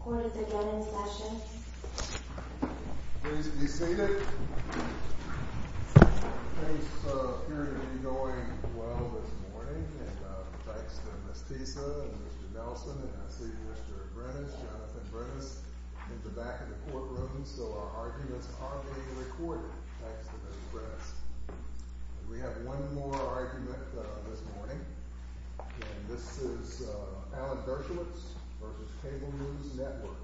Court is again in session. Please be seated. Things appear to be going well this morning. Thanks to Ms. Tisa and Mr. Nelson, and I see Mr. Brenes, Jonathan Brenes, in the back of the courtroom. So our arguments are being recorded. Thanks to Mr. Brenes. We have one more argument this morning. And this is Alan Dershowitz v. Cable News Network.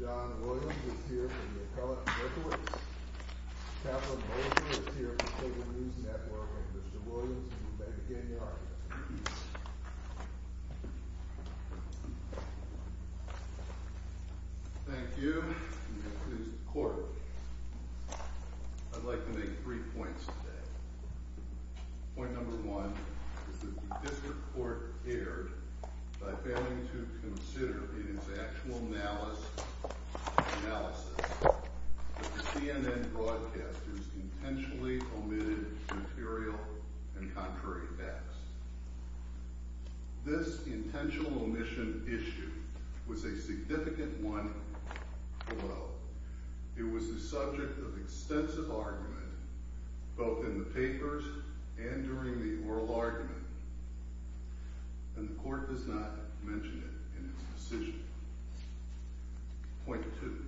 John Williams is here from McCullough & Dershowitz. Catherine Bolton is here from Cable News Network. And Mr. Williams, you may begin your argument. Thank you. And that concludes the court. I'd like to make three points today. Point number one is that the district court erred by failing to consider in its actual analysis that the CNN broadcasters intentionally omitted material and contrary facts. This intentional omission issue was a significant one below. It was the subject of extensive oral argument, both in the papers and during the oral argument. And the court does not mention it in its decision. Point two.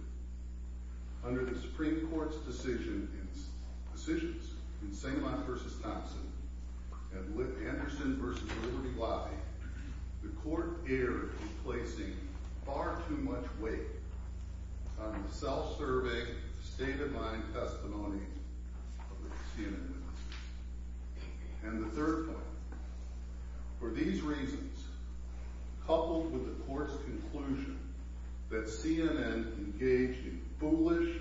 Under the Supreme Court's decisions in St. Louis v. Thompson at Lipp Anderson v. Liberty Lobby, the court erred in placing far too much weight on the self-survey state-of-mind testimony of the CNN. And the third point. For these reasons, coupled with the court's conclusion that CNN engaged in foolish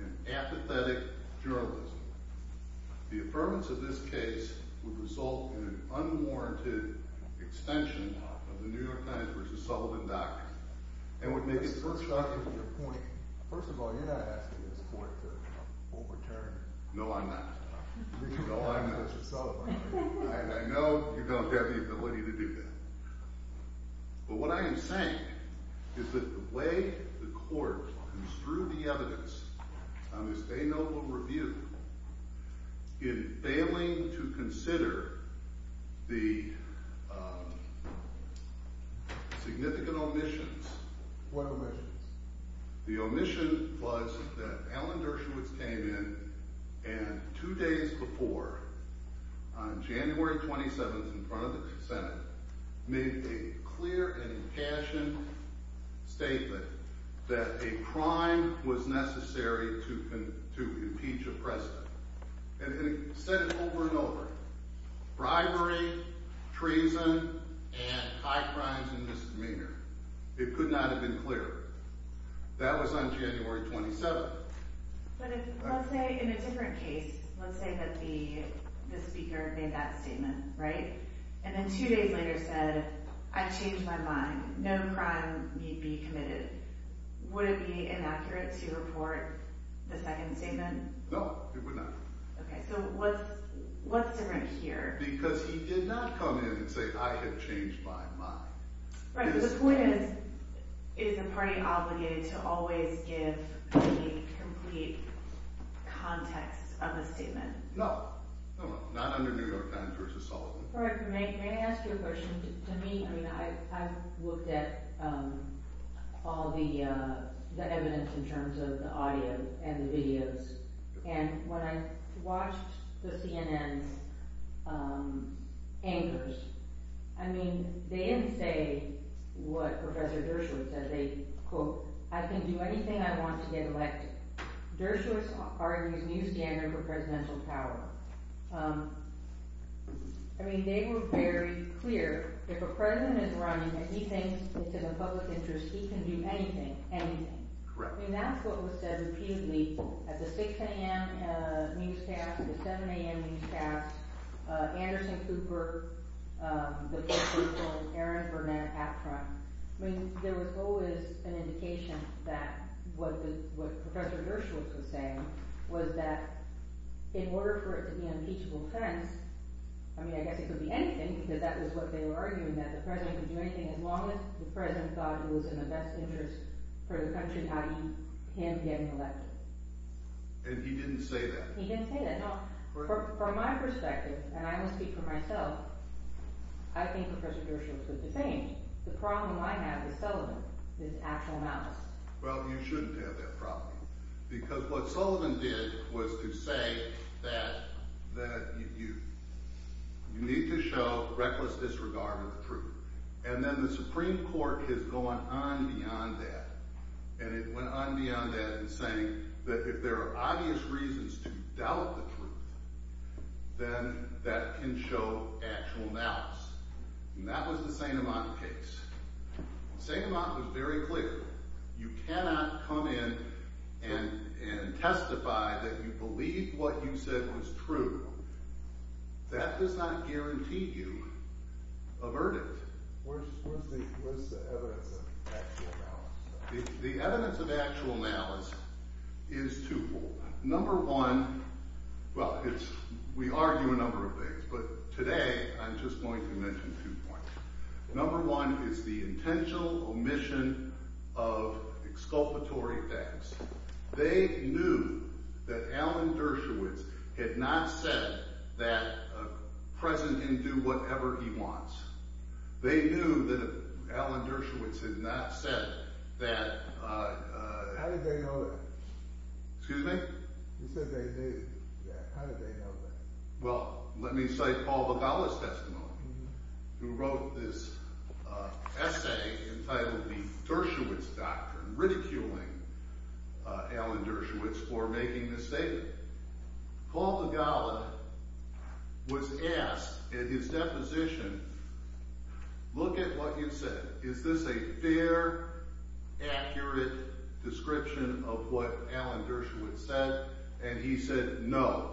and apathetic journalism, the affirmance of this case would result in an unwarranted extension of the New York Times v. Sullivan document, and would make it impossible for the court to overturn the New York Times v. Sullivan. I know you don't have the ability to do that. But what I am saying is that the way the court construed the evidence on this day-note review in failing to consider the significant omissions What omissions? The omission was that Alan Dershowitz came in and two days before on January 27th in front of the Senate made a clear and impassioned statement that a crime was necessary to impeach a president. And he said it over and over. Bribery, treason, and high crimes and misdemeanor. It could not have been clearer. That was on January 27th. But let's say in a different case, let's say that the speaker made that statement, right? And then two days later said, I changed my mind. No crime need be committed. Would it be inaccurate to report the second statement? No, it would not. So what's different here? Because he did not come in and say I had changed my mind. Is the party obligated to always give the complete context of the statement? No. Not under New York Times v. Sullivan. I've looked at all the evidence in terms of the audio and the videos and when I watched the CNN's anchors, I mean, they didn't say what Professor Dershowitz said. They, quote, I can do anything I want to get elected. Dershowitz argues new standard for presidential power. I mean, they were very clear. If a president is running and he thinks it's in the public interest he can do anything, anything. I mean, that's what was said repeatedly at the 6 a.m. newscast, the 7 a.m. newscast, Anderson Cooper, Aaron Burnett at Trump. I mean, there was always an indication that what Professor Dershowitz was saying was that in order for it to be an impeachable offense, I mean, I guess it could be anything because that was what they were arguing, that the president could do anything as long as the president thought it was in the best interest for the country i.e. him getting elected. And he didn't say that? He didn't say that. Now, from my perspective, and I'm going to speak for myself, I think Professor Dershowitz was defamed. The problem I have with Sullivan is actual malice. Well, you shouldn't have that problem because what Sullivan did was to say that you need to show reckless disregard of the truth. And then the Supreme Court has gone on beyond that, and it went on beyond that in saying that if there are obvious reasons to doubt the truth, then that can show actual malice. And that was the St. Amant case. St. Amant was very clear. You cannot come in and testify that you believe what you said was true. That does not guarantee you a verdict. Where's the evidence of actual malice? The evidence of malice is twofold. Number one, well, we argue a number of things, but today I'm just going to mention two points. Number one is the intentional omission of exculpatory facts. They knew that Alan Dershowitz had not said that the president can do whatever he wants. They knew that Alan Dershowitz had not said that How did they know that? He said they knew that. How did they know that? Well, let me cite Paul Vigala's testimony, who wrote this essay entitled The Dershowitz Doctrine, ridiculing Alan Dershowitz for making this statement. Paul Vigala was asked in his deposition, look at what you've said. Is this a fair, accurate description of what Alan Dershowitz said? And he said no.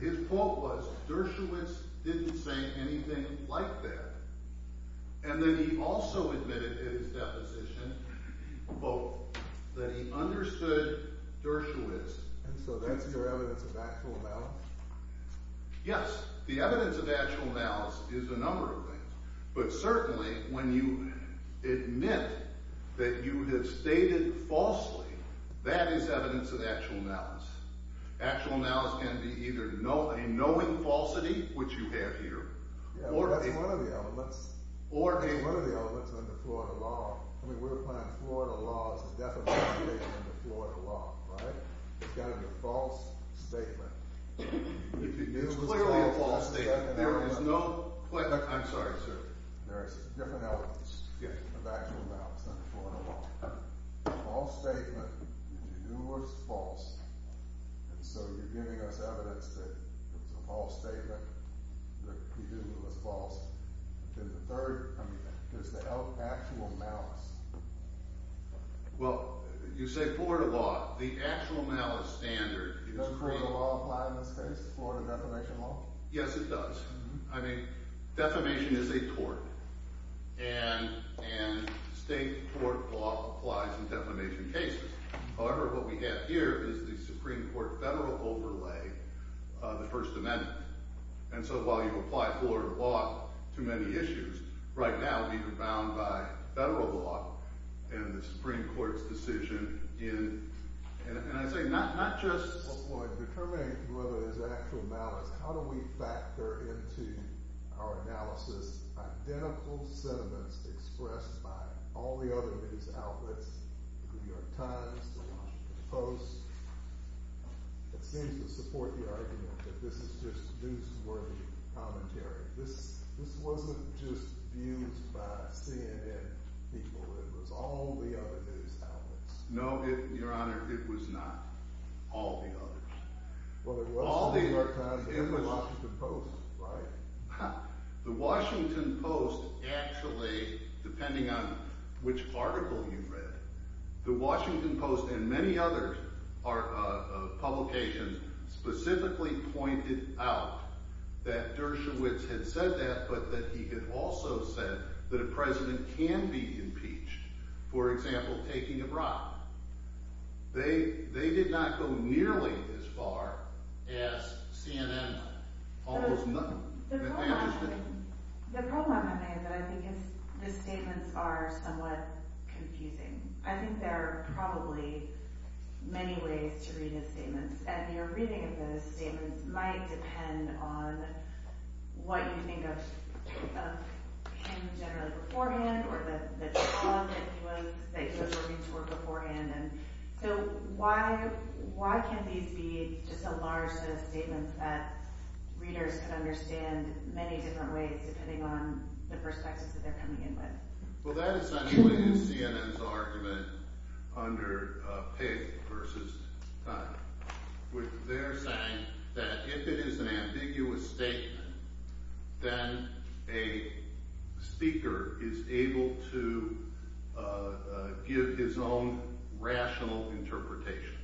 His quote was, Dershowitz didn't say anything like that. And then he also admitted in his deposition, quote, that he understood Dershowitz. And so that's your evidence of actual malice? Yes. The evidence of actual malice is a number of things. But certainly, when you admit that you have stated falsely, that is evidence of actual malice. Actual malice can be either a knowing falsity, which you have here, or a... That's one of the elements under Florida law. I mean, we're applying Florida law. This is definitely stated under Florida law, right? It's got to be a false statement. It's clearly a false statement. There is no... I'm sorry, sir. There is different elements of actual malice under Florida law. A false statement that you knew was false, and so you're giving us evidence that it was a false statement that you knew was false. And the third is the actual malice. Well, you say Florida law. The actual malice standard... Does Florida law apply in this case? Florida defamation law? Yes, it does. I mean, defamation is a court, and state court law applies in defamation cases. However, what we have here is the Supreme Court federal overlay, the First Amendment. And so while you apply Florida law to many issues, right now we've been bound by federal law and the Supreme Court's decision in... And I say not just determining whether there's actual malice, how do we factor into our analysis identical sentiments expressed by all the other news outlets, the New York Times, the Washington Post? It seems to support the argument that this is just newsworthy commentary. This wasn't just views by CNN people. It was all the other news outlets. No, Your Honor, it was not. All the others. Well, it was the New York Times and the Washington Post, right? The Washington Post actually, depending on which article you read, the Washington Post and many other publications specifically pointed out that Dershowitz had said that, but that he had also said that a president can be impeached. For example, taking a bribe. They did not go nearly as far as CNN did. Almost nothing. The problem I'm having is that I think the statements are somewhat confusing. I think there are probably many ways to read his statements, and your reading of those statements might depend on what you think of him generally beforehand, or the job that he was working for beforehand. So why can't these be just a large set of statements that readers can understand many different ways depending on the perspectives that they're coming in with? Well, that is anyway CNN's argument under Page versus Time, where they're saying that if it is an ambiguous statement, then a person has to give his own rational interpretation.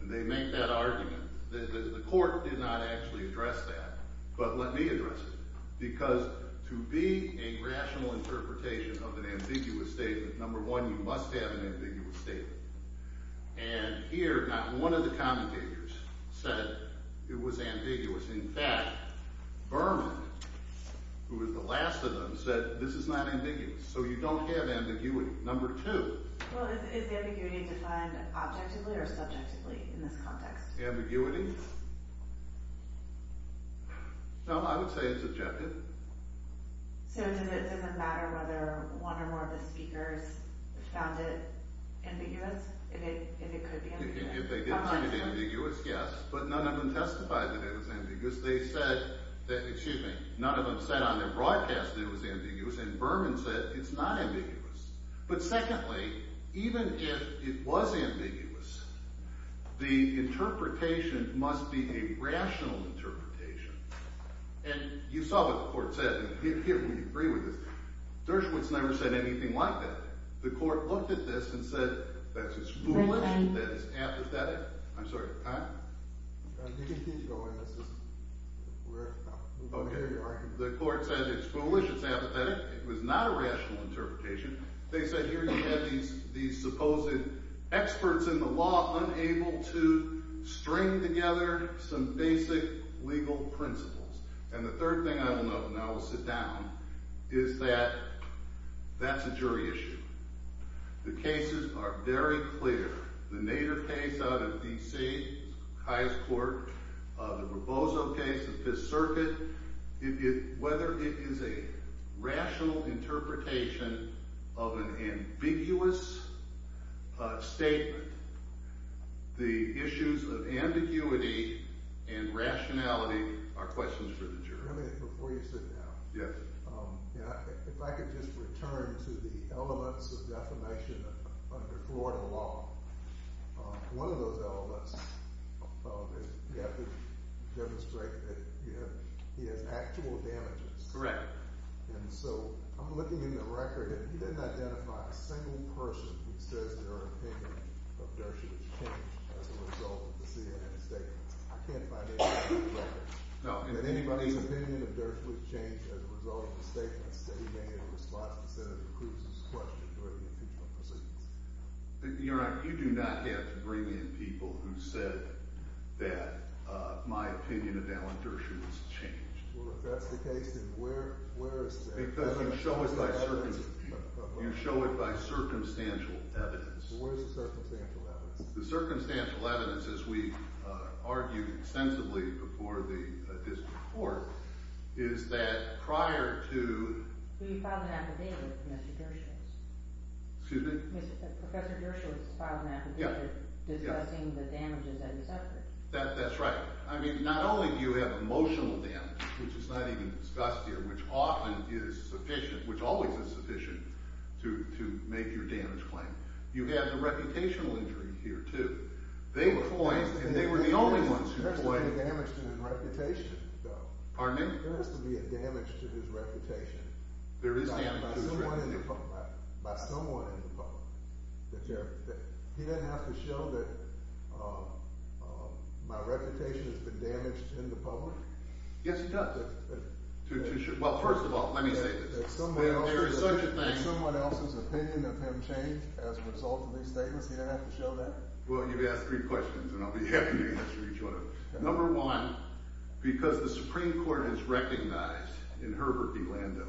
And they make that argument. The court did not actually address that, but let me address it. Because to be a rational interpretation of an ambiguous statement, number one, you must have an ambiguous statement. And here, not one of the commentators said it was ambiguous. In fact, Berman, who was the last of these, so you don't have ambiguity. Number two. Well, is ambiguity defined objectively or subjectively in this context? Ambiguity? No, I would say it's objective. So does it matter whether one or more of the speakers found it ambiguous? If it could be ambiguous? If they did find it ambiguous, yes, but none of them testified that it was ambiguous. They said that, excuse me, none of them said on their broadcast that it was ambiguous, and Berman said it's not ambiguous. But secondly, even if it was ambiguous, the interpretation must be a rational interpretation. And you saw what the court said, and here we agree with this. Dershowitz never said anything like that. The court looked at this and said that it's foolish, that it's apathetic. I'm sorry, Time? You can keep going. The court said it's foolish, it's apathetic. It was not a rational interpretation. They said here you have these supposed experts in the law unable to string together some basic legal principles. And the third thing I will note, and I will sit down, is that that's a jury issue. The cases are very clear. The Nader case out of D.C., the highest court, the Roboso case, the Fifth Circuit, whether it is a rational interpretation of an ambiguous statement, the issues of ambiguity and rationality are questions for the jury. Before you sit down, if I could just return to the elements of defamation under Florida law. One of those elements, you have to demonstrate that he has actual damages. Correct. And so, I'm looking in the record, and he didn't identify a single person who says their opinion of Dershowitz changed as a result of the CNN statements. I can't find any proof that anybody's opinion of Dershowitz changed as a result of the statements that he made in response to Senator Cruz's question during the impeachment proceedings. You're right. You do not have to bring in people who said that my opinion of Alan Dershowitz changed. Well, if that's the case, then where is the evidence? You show it by circumstantial evidence. Well, where is the circumstantial evidence? The circumstantial evidence, as we argued extensively before this report, is that prior to... Who you filed an affidavit with, Mr. Dershowitz? Excuse me? Professor Dershowitz filed an affidavit discussing the damages that he suffered. That's right. I mean, not only do you have emotional damage, which is not even discussed here, which often is sufficient, which always is sufficient, to make your damage claim. You have the reputational injury here, too. They were the only ones who claimed... There has to be a damage to his reputation, though. Pardon me? There has to be a damage to his reputation. By someone in the public. He didn't have to show that my reputation has been damaged in the public? Yes, he does. Well, first of all, let me say this. Did someone else's opinion of him change as a result of these statements? He didn't have to show that? Well, you've asked three questions, and I'll be answering each one of them. Number one, because the Supreme Court has recognized in Herbert D. Lando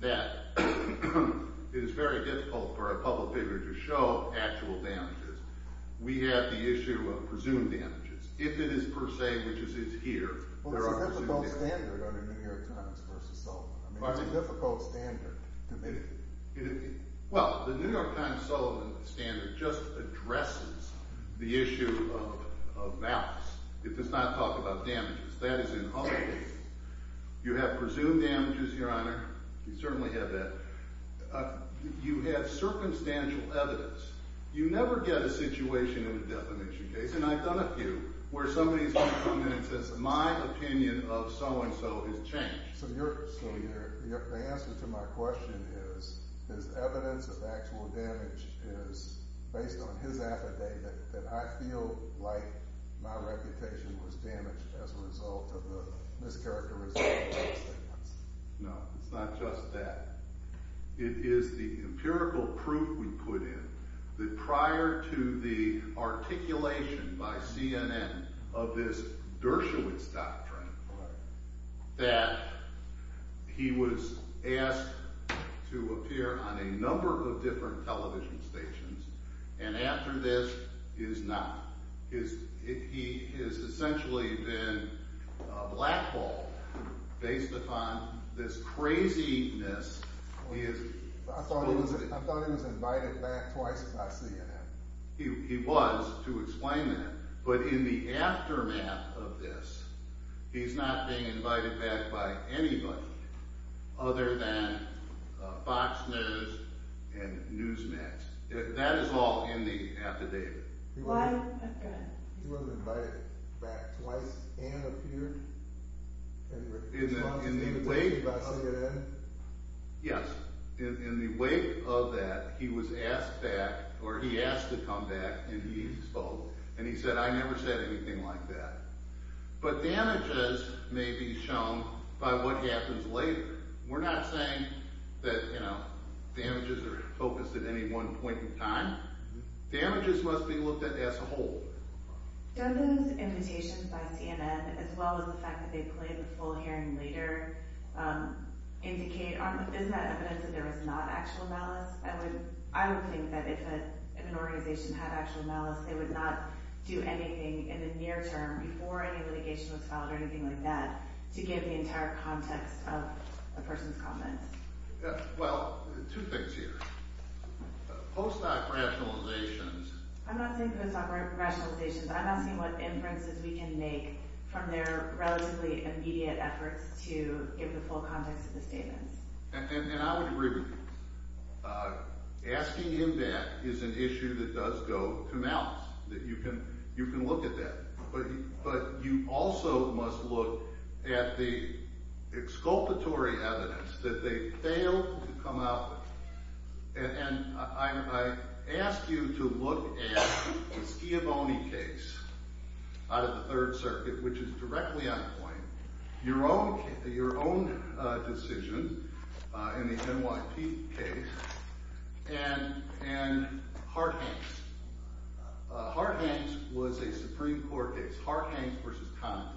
that it is very difficult for a public figure to show actual damages. We have the issue of presumed damages. If it is per se, which is his here... Well, it's a difficult standard under New York Times versus Sullivan. It's a difficult standard to me. Well, the New York Times-Sullivan standard just addresses the issue of balance. It does not talk about damages. That is in all cases. You have presumed damages, Your Honor. You certainly have that. You have circumstantial evidence. You never get a situation in a defamation case, and I've done a few, where somebody has come to me and said, my opinion of so-and-so has changed. So your answer to my question is evidence of actual damage is based on his affidavit that I feel like my reputation was damaged as a result of the mischaracterization of the statements. No, it's not just that. It is the empirical proof we put in that prior to the articulation by CNN of this Dershowitz doctrine that he was asked to appear on a number of different television stations and after this is not. He has essentially been blackballed based upon this craziness I thought he was invited back twice by CNN. He was, to explain that. But in the aftermath of this, he's not being invited back by anybody other than Fox News and Newsmax. That is all in the affidavit. He wasn't invited back twice and appeared. Yes. In the wake of that, he was asked back, or he asked to come back and he spoke and he said, I never said anything like that. But damages may be shown by what happens later. We're not saying that, you know, damages are focused at any one point in time. Damages must be looked at as a whole. Don't those invitations by CNN, as well as the fact that they played the full hearing later indicate, is that evidence that there was not actual malice? I would think that if an organization had actual malice, they would not do anything in the near term before any litigation was filed or anything like that to give the entire context of the person's comments. Well, two things here. Post-op rationalizations. I'm not saying post-op rationalizations. I'm asking what inferences we can make from their relatively immediate efforts to give the full context of the statements. And I would agree with you. Asking him back is an issue that does go to mouse, that you can look at that. But you also must look at the exculpatory evidence that they failed to come up with. And I ask you to look at the Schiavone case out of the Third Circuit, which is directly on point. Your own decision in the NYT case and Hart-Hanks. Hart-Hanks was a Supreme Court case. Hart-Hanks versus Condon.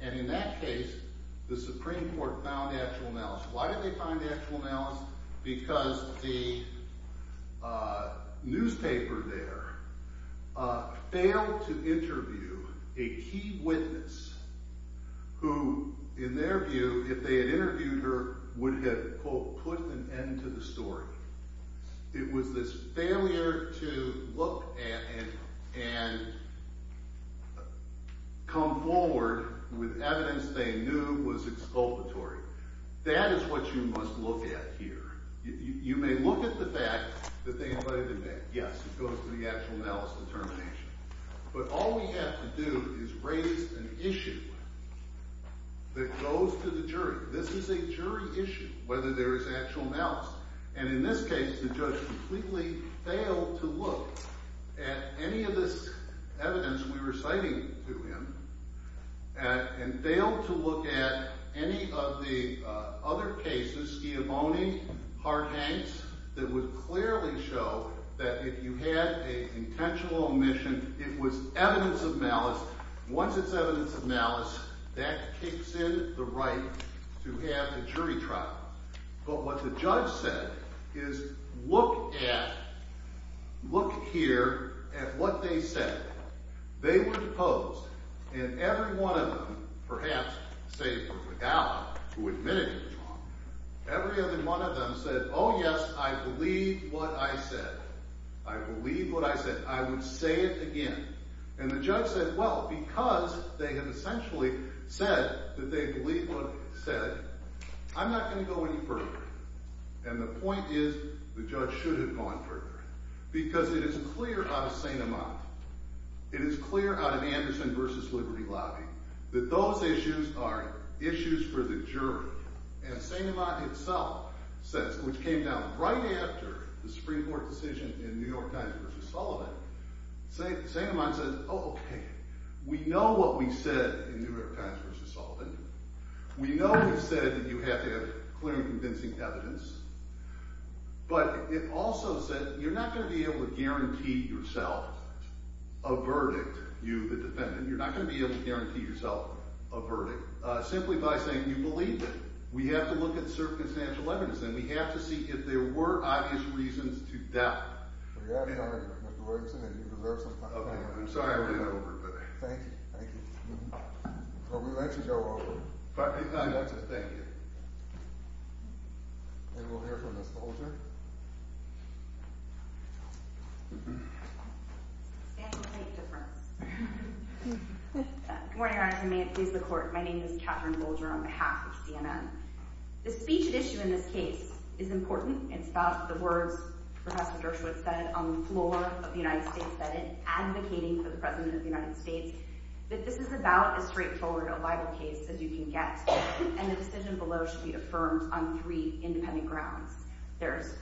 And in that case, the Supreme Court found actual malice. Why did they find actual malice? Because the newspaper there failed to interview a key witness who, in their view, if they had interviewed her, would have, quote, put an end to the story. It was this failure to look at and come forward with evidence they knew was exculpatory. That is what you must look at here. You may look at the fact that they invited him back. Yes, it goes to the actual malice determination. But all we have to do is raise an issue that goes to the jury. This is a jury issue, whether there is actual malice. And in this case, the judge completely failed to look at any of this evidence we were citing to him and failed to look at any of the other cases, Schiavone, Hart-Hanks, that would clearly show that if you had an intentional omission, it was evidence of malice. Once it's evidence of malice, that kicks in the right to have a jury trial. But what the judge said is, look at look here at what they said. They were deposed, and every one of them, perhaps save for McGowan, who admitted it was wrong, every other one of them said, oh yes, I believe what I said. I believe what I said. I would say it again. And the judge said, well, because they had essentially said that they believe what they said, I'm not going to go any further. And the point is, the judge should have gone further. Because it is clear out of St. Amant, it is clear out of Anderson v. Liberty Lobby, that those issues are issues for the jury. And St. Amant itself, which came down right after the Supreme Court decision in New York Times v. Sullivan, St. Amant said, oh, okay, we know what we said in New York Times v. Sullivan. We know we've said that you have to have clear and convincing evidence. But it also said, you're not going to be able to guarantee yourself a verdict. You, the defendant, you're not going to be able to guarantee yourself a verdict. Simply by saying you believed it. We have to look at circumstantial evidence and we have to see if there were obvious reasons to doubt. I'm sorry I'm getting over it. Thank you. Thank you. And we'll hear from Ms. Bolger. Good morning, Your Honor. My name is Katherine Bolger on behalf of CNN. The speech at issue in this case is important. It's about the words Professor Dershowitz said on the floor of the United States that in advocating for the President of the United States, that this is about as straightforward a libel case as you can get. And the decision below should be affirmed on three independent grounds. There's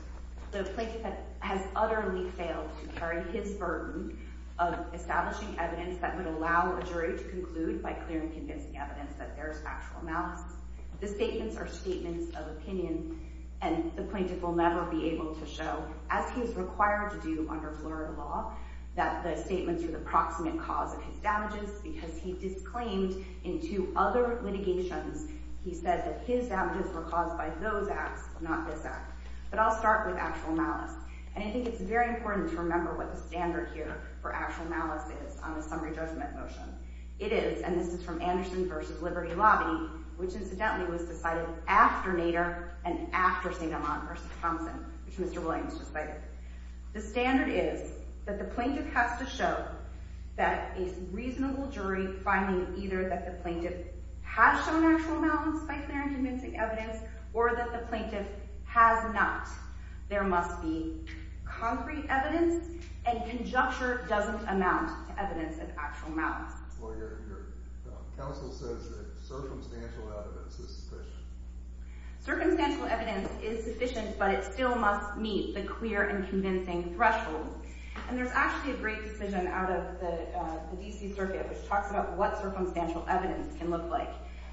the plaintiff has utterly failed to carry his burden of establishing evidence that would allow a jury to conclude by clear and convincing evidence that there's factual malice. The statements are statements of opinion and the plaintiff will never be able to show, as he's required to do under Florida law, that the statements are the proximate cause of his damages because he in court litigations, he said that his damages were caused by those acts, not this act. But I'll start with actual malice. And I think it's very important to remember what the standard here for actual malice is on the summary judgment motion. It is, and this is from Anderson v. Liberty Lobby, which incidentally was decided after Nader and after St. Amant v. Thompson, which Mr. Williams just cited. The standard is that the plaintiff has to show that a reasonable jury finding either that the plaintiff has shown actual malice by clear and convincing evidence or that the plaintiff has not. There must be concrete evidence and conjecture doesn't amount to evidence of actual malice. Well, your counsel says that circumstantial evidence is sufficient. Circumstantial evidence is sufficient, but it still must meet the clear and convincing threshold. And there's actually a great decision out of the D.C. Circuit which talks about what circumstantial evidence can look like.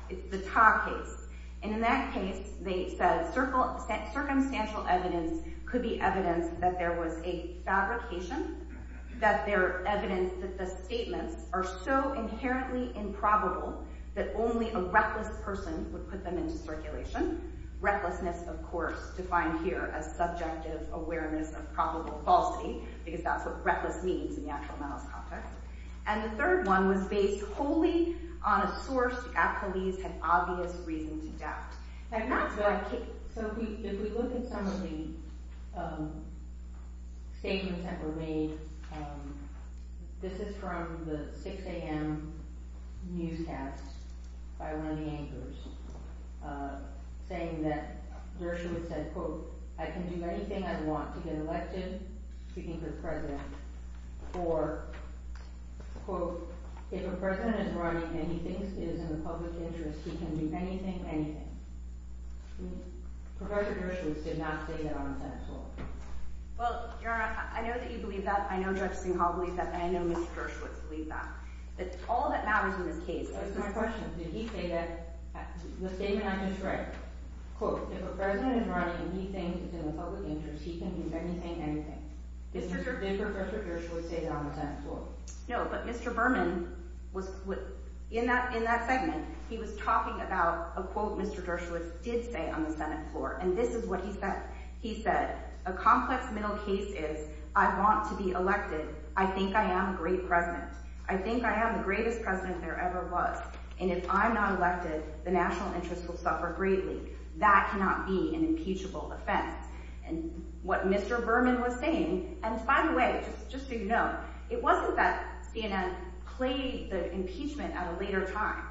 It's the Tah case. And in that case, they said circumstantial evidence could be evidence that there was a fabrication, that there evidence that the statements are so inherently improbable that only a reckless person would put them into circulation. Recklessness, of course, defined here as subjective awareness of probable falsity, because that's what reckless means in the actual malice context. And the third one was based wholly on a source the appellees had obvious reason to doubt. So if we look at some of the statements that were made, this is from the 6 a.m. newscast by one of the anchors, saying that Dershowitz said, quote, I can do anything I want to get elected, speaking for the president, for, quote, if a president is running and he thinks it is in the public interest, he can do anything, anything. Professor Dershowitz did not say that on the Senate floor. Well, Your Honor, I know that you believe that. I know Judge Singhal believes that. And I know Mr. Dershowitz believes that. All of that matters in this case. That's my question. Did he say that the statement I just read, quote, if a president is running and he thinks it's in the public interest, he can do anything, anything. Did Professor Dershowitz say that on the Senate floor? No, but Mr. Berman was in that segment, he was talking about a quote Mr. Dershowitz did say on the Senate floor. And this is what he said. He said, a complex middle case is, I want to be elected. I think I am a great president. I think I am the greatest president there ever was. And if I'm not elected, the national interest will suffer greatly. That cannot be an impeachable offense. And what Mr. Berman was saying, and by the way, just so you know, it wasn't that CNN played the impeachment at a later time.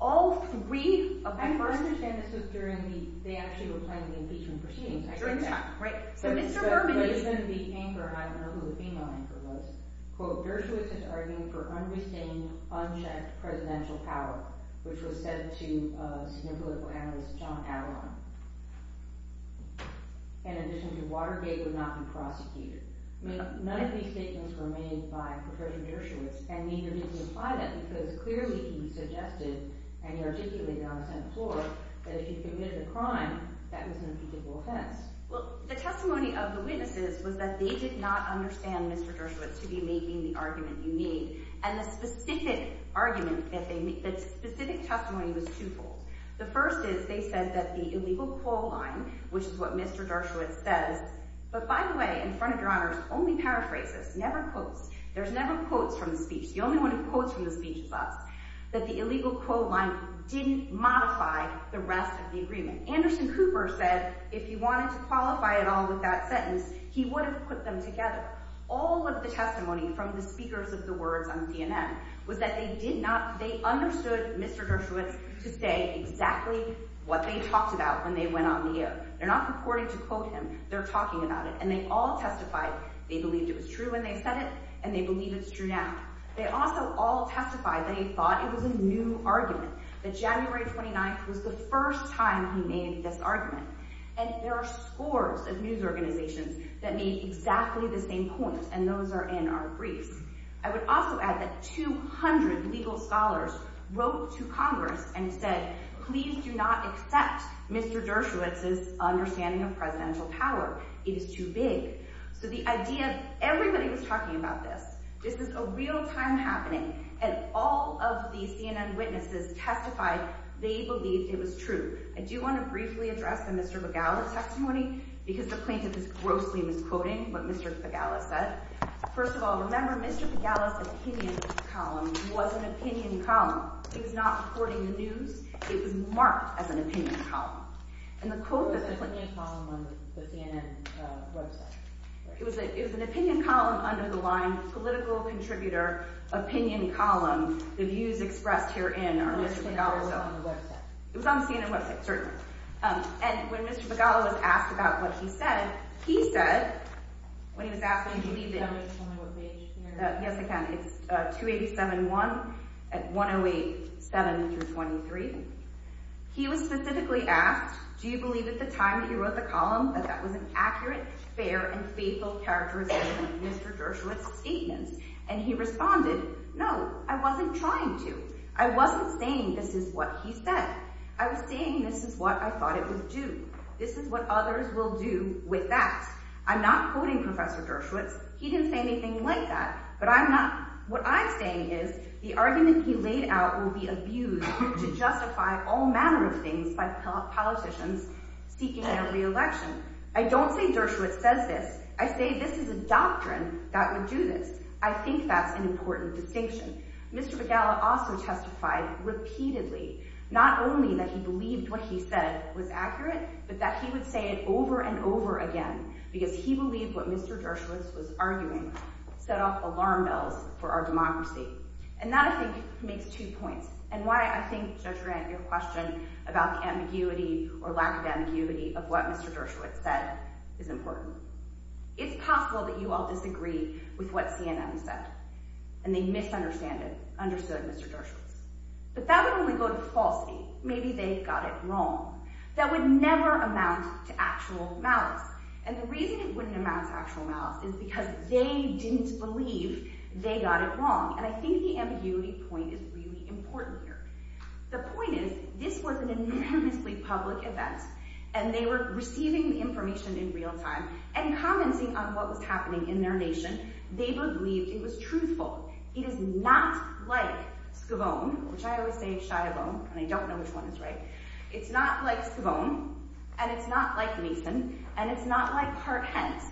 All three of our... I understand this was during the, they actually were playing the impeachment proceedings. During the time, right. So Mr. Berman is... The anchor, I don't know who the female anchor was, quote, Dershowitz is arguing for unrestrained, unchecked presidential power, which was said to have been made by the political analyst John Adler, in addition to Watergate would not be prosecuted. None of these statements were made by Professor Dershowitz, and neither did he imply that, because clearly he suggested, and he articulated on the Senate floor, that if you commit a crime, that was an impeachable offense. Well, the testimony of the witnesses was that they did not understand Mr. Dershowitz to be making the argument you need. And the specific argument that they made, the specific testimony was twofold. The first is they said that the illegal coal line, which is what Mr. Dershowitz says, but by the way, in front of your honors, only paraphrases, never quotes. There's never quotes from the speech. The only one who quotes from the speech is us. That the illegal coal line didn't modify the rest of the agreement. Anderson Cooper said if he wanted to qualify at all with that sentence, he would have put them together. All of the testimony from the speakers of the words on CNN was that they did not, they understood Mr. Dershowitz to say exactly what they talked about when they went on the air. They're not purporting to quote him. They're talking about it. And they all testified they believed it was true when they said it, and they believe it's true now. They also all testified that he thought it was a new argument. That January 29th was the first time he made this argument. And there are scores of news organizations that made exactly the same point, and those are in our briefs. I would also add that 200 legal scholars wrote to Congress and said, please do not accept Mr. Dershowitz's understanding of presidential power. It is too big. So the idea, everybody was talking about this. This is a real time happening. And all of the CNN witnesses testified they believed it was true. I do want to briefly address the Mr. Begala testimony because the plaintiff is grossly misquoting what Mr. Begala said. First of all, remember Mr. Begala's opinion column was an opinion column. It was not reporting the news. It was marked as an opinion column. And the quote that the plaintiff... It was an opinion column under the line political contributor opinion column. The views expressed herein are Mr. Begala's own. It was on the CNN website, certainly. And when Mr. Begala was asked about what he said, he said when he was asked... Yes, I can. It's 287.1 at 108.7-23 He was specifically asked, do you believe at the time he wrote the column that that was an accurate, fair, and faithful characterization of Mr. Dershowitz's statements? And he responded, no, I wasn't trying to. I wasn't saying this is what he said. I was saying this is what I thought it would do. This is what others will do with that. I'm not quoting Professor Dershowitz. He didn't say anything like that. But what I'm saying is the argument he laid out will be abused to justify all manner of things by politicians seeking a re-election. I don't say Dershowitz says this. I say this is a doctrine that would do this. I think that's an important distinction. Mr. Begala also testified repeatedly, not only that he believed what he said was true, but over and over again, because he believed what Mr. Dershowitz was arguing set off alarm bells for our democracy. And that, I think, makes two points, and why I think, Judge Grant, your question about the ambiguity or lack of ambiguity of what Mr. Dershowitz said is important. It's possible that you all disagree with what CNN said, and they misunderstood Mr. Dershowitz. But that would only go to falsity. Maybe they got it wrong. That would never amount to actual malice. And the reason it wouldn't amount to actual malice is because they didn't believe they got it wrong. And I think the ambiguity point is really important here. The point is, this was an enormously public event, and they were receiving the information in real time, and commenting on what was happening in their nation. They believed it was truthful. It is not like Skavone, which I always say shy-a-bone, and I don't know which one is right. It's not like Skavone, and it's not like Mason, and it's not like Hart-Hence.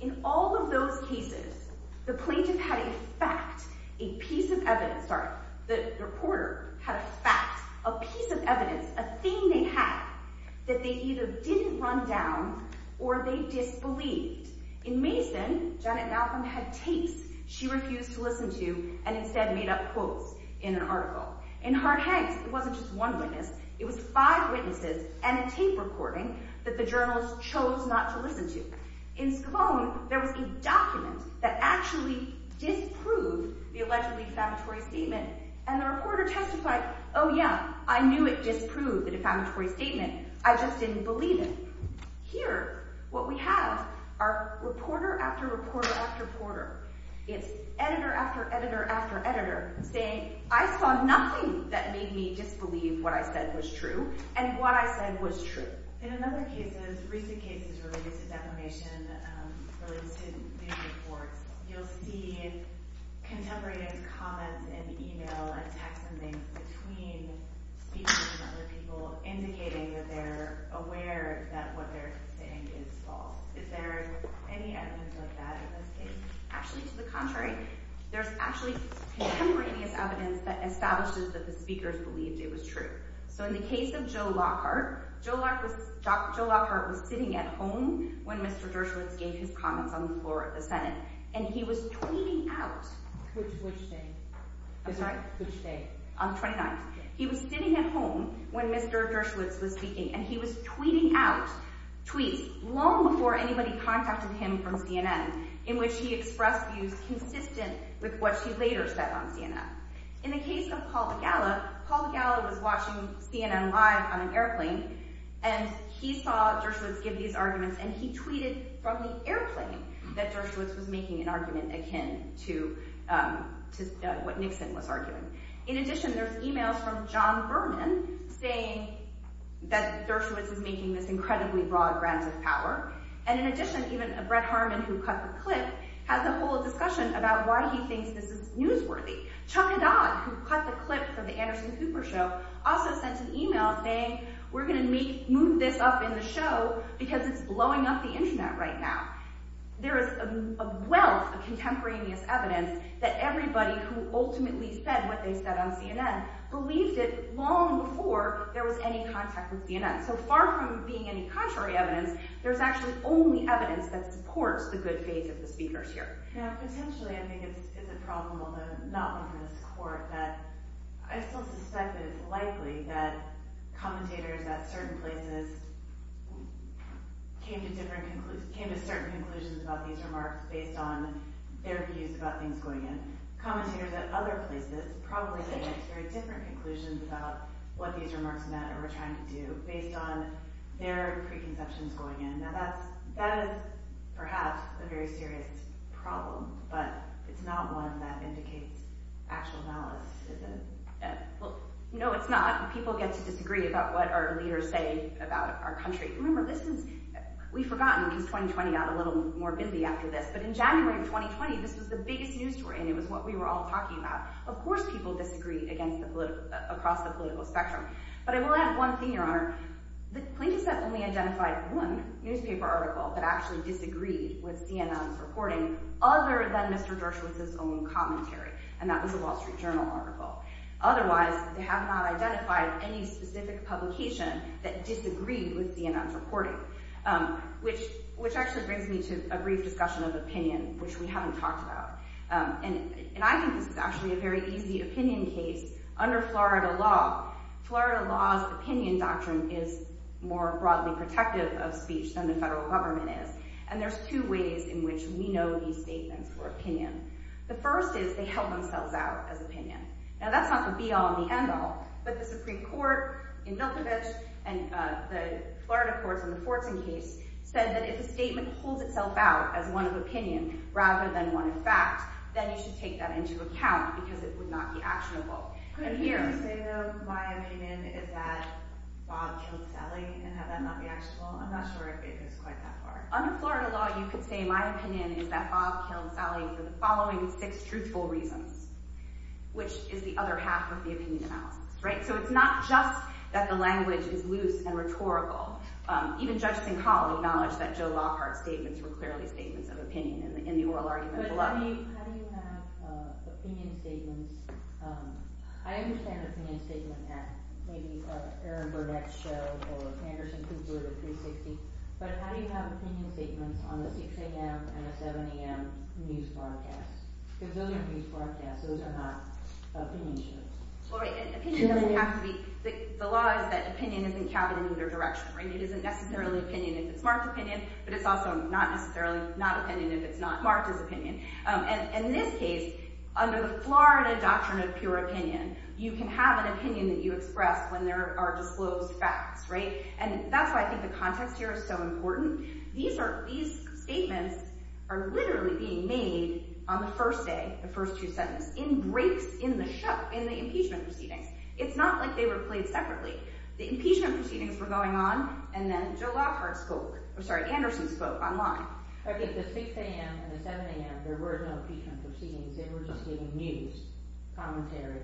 In all of those cases, the plaintiff had a fact, a piece of evidence sorry, the reporter had a fact, a piece of evidence, a thing they had that they either didn't run down, or they disbelieved. In Mason, Janet Malcolm had tapes she refused to listen to, and instead made up quotes in an article. In Hart-Hence, it wasn't just one witness, it was five witnesses and a tape recording that the journalist chose not to listen to. In Skavone, there was a document that actually disproved the allegedly defamatory statement, and the reporter testified, oh yeah, I knew it disproved the defamatory statement, I just didn't believe it. Here, what we have are reporter after reporter after reporter. It's editor after editor after editor saying, I saw nothing that made me disbelieve what I said was true, and what I said was true. In other cases, recent cases related to defamation, related to news reports, you'll see contemporary comments in email and text and things between speakers and other people, indicating that they're aware that what they're saying is false. Is there any evidence of that in this case? Actually, to the contrary, there's actually contemporaneous evidence that establishes that the speakers believed it was true. So in the case of Joe Lockhart, Joe Lockhart was sitting at home when Mr. Dershowitz gave his comments on the floor of the Senate, and he was tweeting out on the 29th. He was sitting at home when Mr. Dershowitz was speaking, and he was tweeting out tweets long before anybody contacted him from CNN in which he expressed views consistent with what he later said on CNN. In the case of Paul Begala, Paul Begala was watching CNN Live on an airplane, and he saw Dershowitz give these arguments, and he tweeted from the airplane that Dershowitz was making an argument akin to what Nixon was arguing. In addition, there's emails from John Berman saying that Dershowitz is making this incredibly broad rant of power, and in addition, even Brett Harman, who cut the clip, has a whole discussion about why he thinks this is newsworthy. Chuck Haddad, who cut the clip for the Anderson Cooper show, also sent an email saying, we're going to move this up in the show because it's blowing up the Internet right now. There is a wealth of contemporaneous evidence that everybody who ultimately said what they said on CNN believed it long before there was any contact with CNN. So far from being any contrary evidence, there's actually only evidence that supports the good faith of the speakers here. Now, potentially, I think it's a problem not only for this court, but I still suspect that it's likely that commentators at certain places came to certain conclusions about these remarks based on their views about things going on. Commentators at other places probably came to very different conclusions about what these remarks meant or were trying to do based on their preconceptions going in. Now, that is perhaps a very serious problem, but it's not one that indicates actual malice, is it? Well, no, it's not. People get to disagree about what our leaders say about our country. Remember, this is—we've forgotten, because 2020 got a little more bimby after this, but in January of 2020, this was the biggest news story and it was what we were all talking about. Of course people disagree across the political spectrum, but I will add one thing, Your Honor. The plaintiffs have only identified one newspaper article that actually disagreed with CNN's reporting other than Mr. Dershowitz's own commentary, and that was a Wall Street Journal article. Otherwise, they have not identified any specific publication that disagreed with CNN's reporting, which actually brings me to a brief discussion of opinion, which we haven't talked about. And I think this is actually a very easy opinion case under Florida law. Florida law's opinion doctrine is more broadly protective of speech than the federal government is, and there's two ways in which we know these statements were opinion. The first is they held themselves out as opinion. Now, that's not the be-all and the end-all, but the Supreme Court in Milkovich and the Florida courts in the Fortson case said that if a statement holds itself out as one of opinion rather than one of fact, then you should take that into account, because it would not be actionable. Could you say, though, my opinion is that Bob killed Sally and have that not be actionable? I'm not sure if it goes quite that far. Under Florida law, you could say my opinion is that Bob killed Sally for the following six truthful reasons, which is the other half of the opinion analysis. Right? So it's not just that the language is loose and rhetorical. Even Judge Sincoll acknowledged that Joe Lockhart's statements were clearly statements of opinion in the oral argument below. But how do you have opinion statements? I understand opinion statements at maybe an Aaron Burdette show or Anderson Cooper or 360, but how do you have opinion statements on the 6 a.m. and the 7 a.m. news broadcasts? Because those are news broadcasts. Those are not opinion shows. Well, right, and opinion doesn't have to be—the law is that opinion isn't counted in either direction, right? It isn't necessarily opinion if it's not opinion if it's not marked as opinion. And in this case, under the Florida doctrine of pure opinion, you can have an opinion that you express when there are disclosed facts, right? And that's why I think the context here is so important. These statements are literally being made on the first day, the first two sentences, in breaks in the show, in the impeachment proceedings. It's not like they were played separately. The impeachment proceedings were going on, and then Joe Lockhart spoke— I think the 6 a.m. and the 7 a.m., there were no impeachment proceedings. They were just giving news commentary.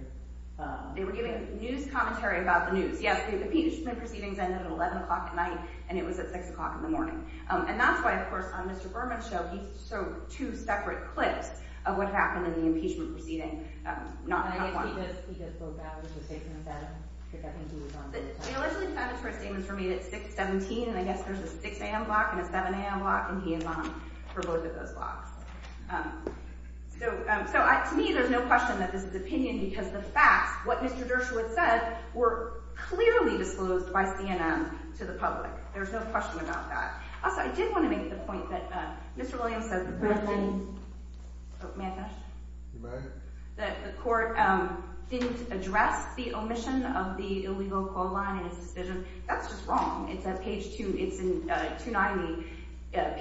They were giving news commentary about the news. Yes, the impeachment proceedings ended at 11 o'clock at night, and it was at 6 o'clock in the morning. And that's why, of course, on Mr. Berman's show, he showed two separate clips of what happened in the impeachment proceeding, not how it went. And I guess he just broke out as the statement said, because I think he was on the phone. He allegedly found it for a statement for me that it's 6-17, and I guess there's a claim on for both of those blocks. So, to me, there's no question that this is an opinion because the facts, what Mr. Dershowitz said, were clearly disclosed by CNN to the public. There's no question about that. Also, I did want to make the point that Mr. Williams said—may I finish? You may. That the court didn't address the omission of the illegal coal line in his decision. That's just wrong. It's at page 2—it's in page 290,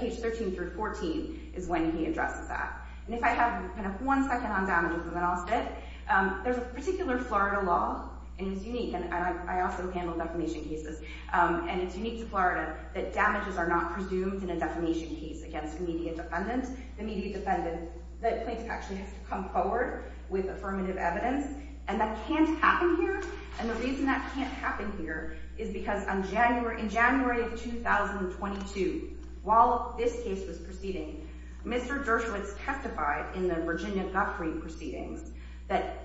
page 13 through 14, is when he addresses that. And if I have one second on damages, then I'll stop. There's a particular Florida law, and it's unique, and I also handle defamation cases, and it's unique to Florida that damages are not presumed in a defamation case against an immediate defendant. The immediate defendant, the plaintiff actually has to come forward with affirmative evidence, and that can't happen here. And the reason that can't happen here is because in January of 2022, while this case was proceeding, Mr. Dershowitz testified in the Virginia Guthrie proceedings that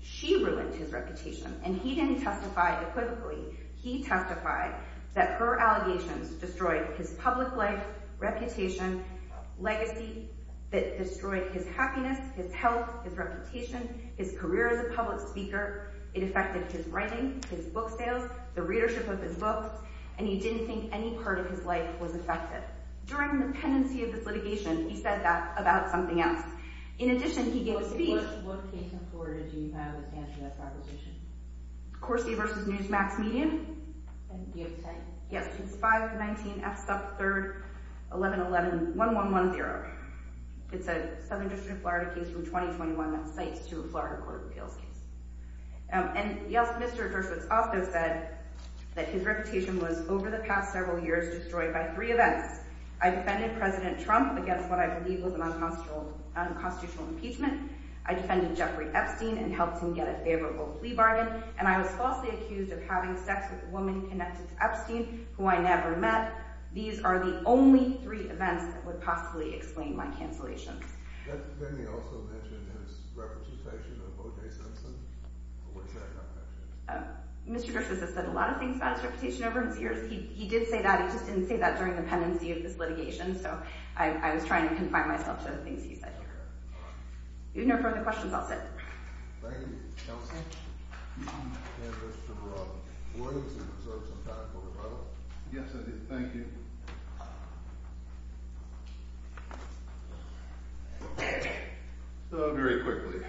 she ruined his reputation, and he didn't testify equitably. He testified that her allegations destroyed his public life, reputation, legacy that destroyed his happiness, his health, his reputation, his career as a public speaker. It affected his writing, his book sales, the readership of his books, and he didn't think any part of his life was affected. During the pendency of this litigation, he said that about something else. In addition, he gave a speech— What case in Florida do you have that stands for that proposition? Corsi v. Newsmax Median. And do you have a site? Yes, it's 519 F. Stuff 3rd, 1111, 1110. It's a Southern District of Florida case from 2021 that cites to a Florida Court of Appeals case. And, yes, Mr. Dershowitz also said that his reputation was, over the past several years, destroyed by three events. I defended President Trump against what I believe was an unconstitutional impeachment. I defended Jeffrey Epstein and helped him get a favorable plea bargain. And I was falsely accused of having sex with a woman connected to Epstein who I never met. These are the only three events that would possibly explain my cancellation. Let me also mention his reputation of O.J. Simpson. What does that mean? Mr. Dershowitz has said a lot of things about his reputation over his years. He did say that, he just didn't say that during the pendency of this litigation, so I was trying to confine myself to the things he said here. If you have no further questions, I'll sit. Thank you. Counsel? Mr. Roy, would you like to reserve some time for rebuttal? Yes, I do. Thank you. So, very quickly,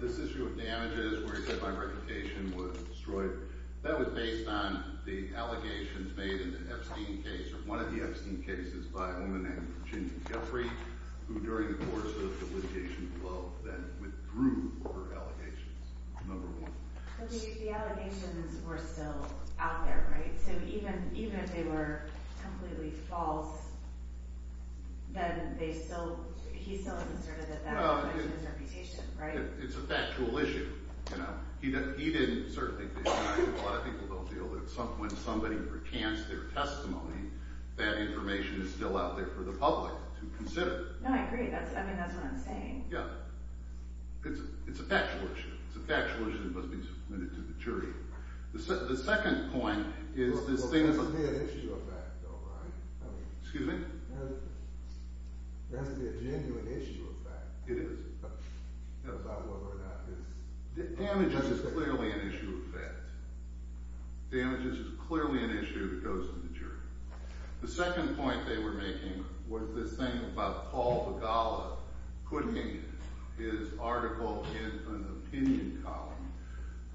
this issue of damages where he said my reputation was destroyed, that was based on the allegations made in the Epstein case, or one of the Epstein cases, by a woman named Virginia Guilfrey who, during the course of the litigation below, then withdrew her allegations, number one. But the allegations were still out there, right? So even if they were completely false, then they still, he still asserted that that was his reputation, right? It's a factual issue. He didn't, certainly a lot of people don't feel that when somebody recants their testimony, that information is still out there for the public to consider. No, I agree. I mean, that's what I'm saying. Yeah. It's a factual issue. It's a factual issue that must be submitted to the jury. The second point is this thing There has to be an issue of fact, though, right? Excuse me? There has to be a genuine issue of fact. It is. About whether or not it's... Damages is clearly an issue of fact. Damages is clearly an issue that goes to the jury. The second point they were making was this thing about Paul Begala putting his article in an opinion column.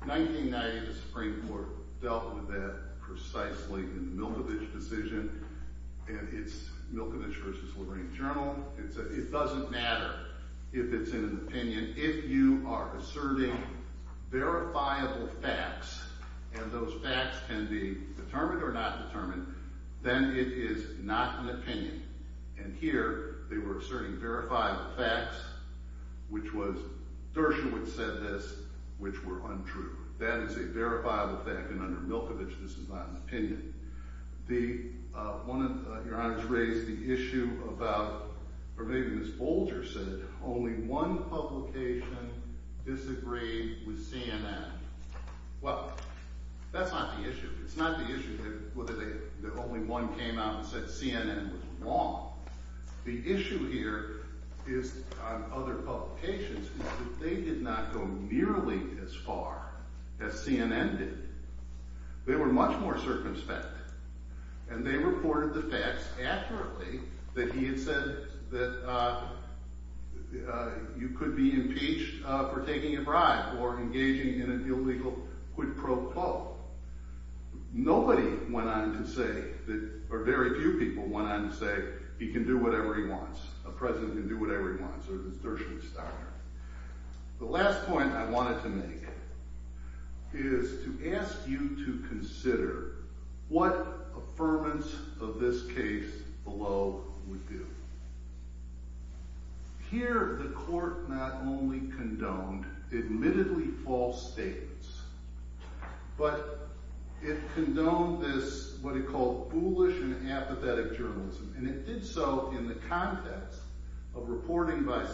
1990, the Supreme Court dealt with that precisely in the Milkevich decision and it's Milkevich v. Lorraine Journal. It says it doesn't matter if it's in an opinion if you are asserting verifiable facts and those facts can be determined or not determined, then it is not an opinion. And here, they were asserting verifiable facts which was, Dershowitz said this, which were untrue. That is a verifiable fact and under Milkevich, this is not an opinion. Your Honor has raised the issue about or maybe Ms. Bolger said, only one publication disagreed with CNN. Well, that's not the issue. It's not the issue that only one came out and said CNN was wrong. The issue here is on other publications is that they did not go nearly as far as CNN did. They were much more circumspect and they reported the facts accurately that he had said that you could be impeached for taking a bribe or engaging in an illegal quid pro quo. Nobody went on to say, or very few people went on to say, he can do whatever he wants. A president can do whatever he wants or as Dershowitz started. The last point I wanted to make is to ask you to consider what affirmance of this case below would do. Here, the court not only condoned admittedly false statements, but it condoned this, what he called foolish and apathetic journalism and it did so in the context of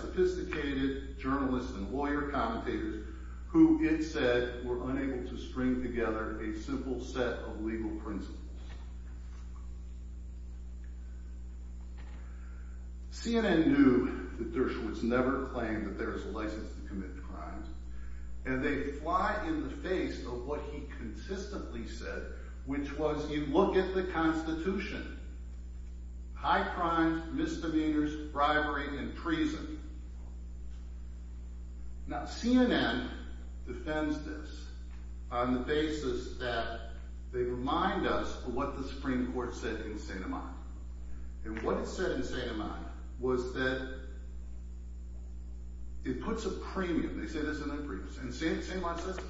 sophisticated journalists and lawyer commentators who it said were unable to string together a simple set of legal principles. CNN knew that Dershowitz never claimed that there is a license to commit crimes and they fly in the face of what he consistently said, which was you look at the Constitution. High crimes, misdemeanors, bribery, and treason. Now, CNN defends this on the basis that they remind us of what the Supreme Court said in St. Imani and what it said in St. Imani was that it puts a premium, they say this in their briefs and St. Imani says this.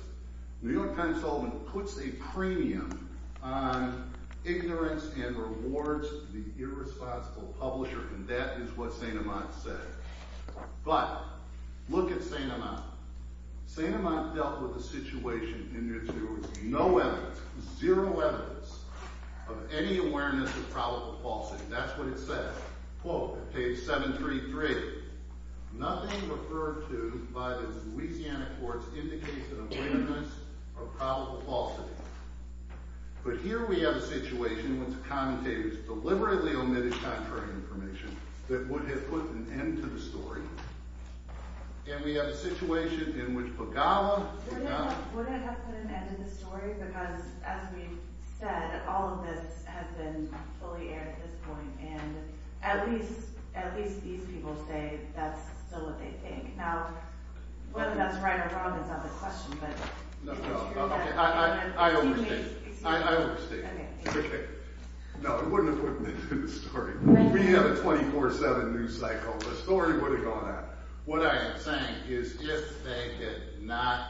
The New York Times told them it puts a premium on ignorance and rewards the irresponsible publisher and that is what St. Imani said. But look at St. Imani. St. Imani dealt with a situation in which there was no evidence, zero evidence of any awareness of probable falsity. That's what it said. Quote page 733, nothing referred to by the Louisiana courts indicates an awareness of probable falsity. But here we have a situation in which commentators deliberately omitted contrary information that would have put an end to the story. And we have a situation in which Pagala... Wouldn't it have put an end to the story? Because as we've said, all of this has been fully aired at this point and at least these people say that's still what they think. Now, whether that's right or wrong is not the question, but No, no, I understand. I understand. No, it wouldn't have put an end to the story. We have a 24-7 news cycle. The story would have gone on. What I am saying is if they had not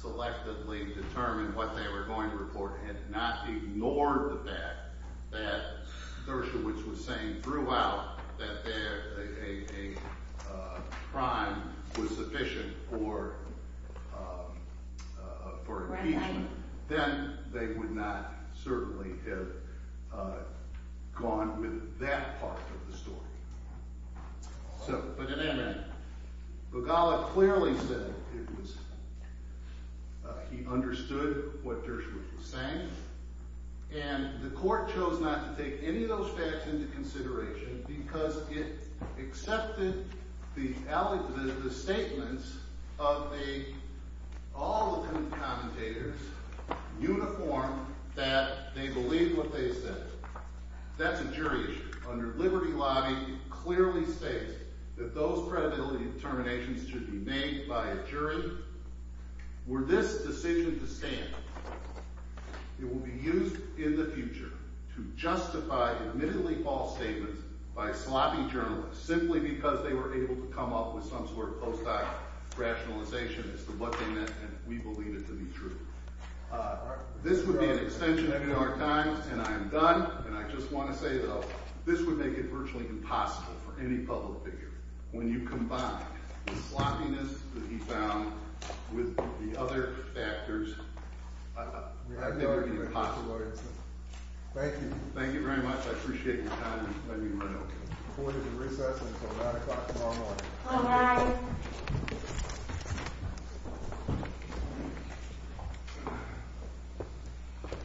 selectively determined what they were going to report, had not ignored the fact that Dershowitz was saying throughout that there a crime was sufficient for for impeachment, then they would not certainly have gone with that part of the story. Pagala clearly said he understood what Dershowitz was saying and the court chose not to take any of those facts into consideration because it accepted the statements of all the independent commentators uniform that they believed what they said. That's a jury issue. Under Liberty Lobby it clearly states that those credibility determinations should be made by a jury. Were this decision to stand it will be used in the future to justify admittedly false statements by sloppy journalists simply because they were able to come up with some sort of post-doc rationalization as to what they meant and we believe it to be true. This would be an extension of New York Times and I am done and I just want to say this would make it virtually impossible for any public figure when you combine the sloppiness that he found with the other factors, I think it would be impossible. Thank you. Thank you very much. I appreciate your time and letting me run over. Thank you.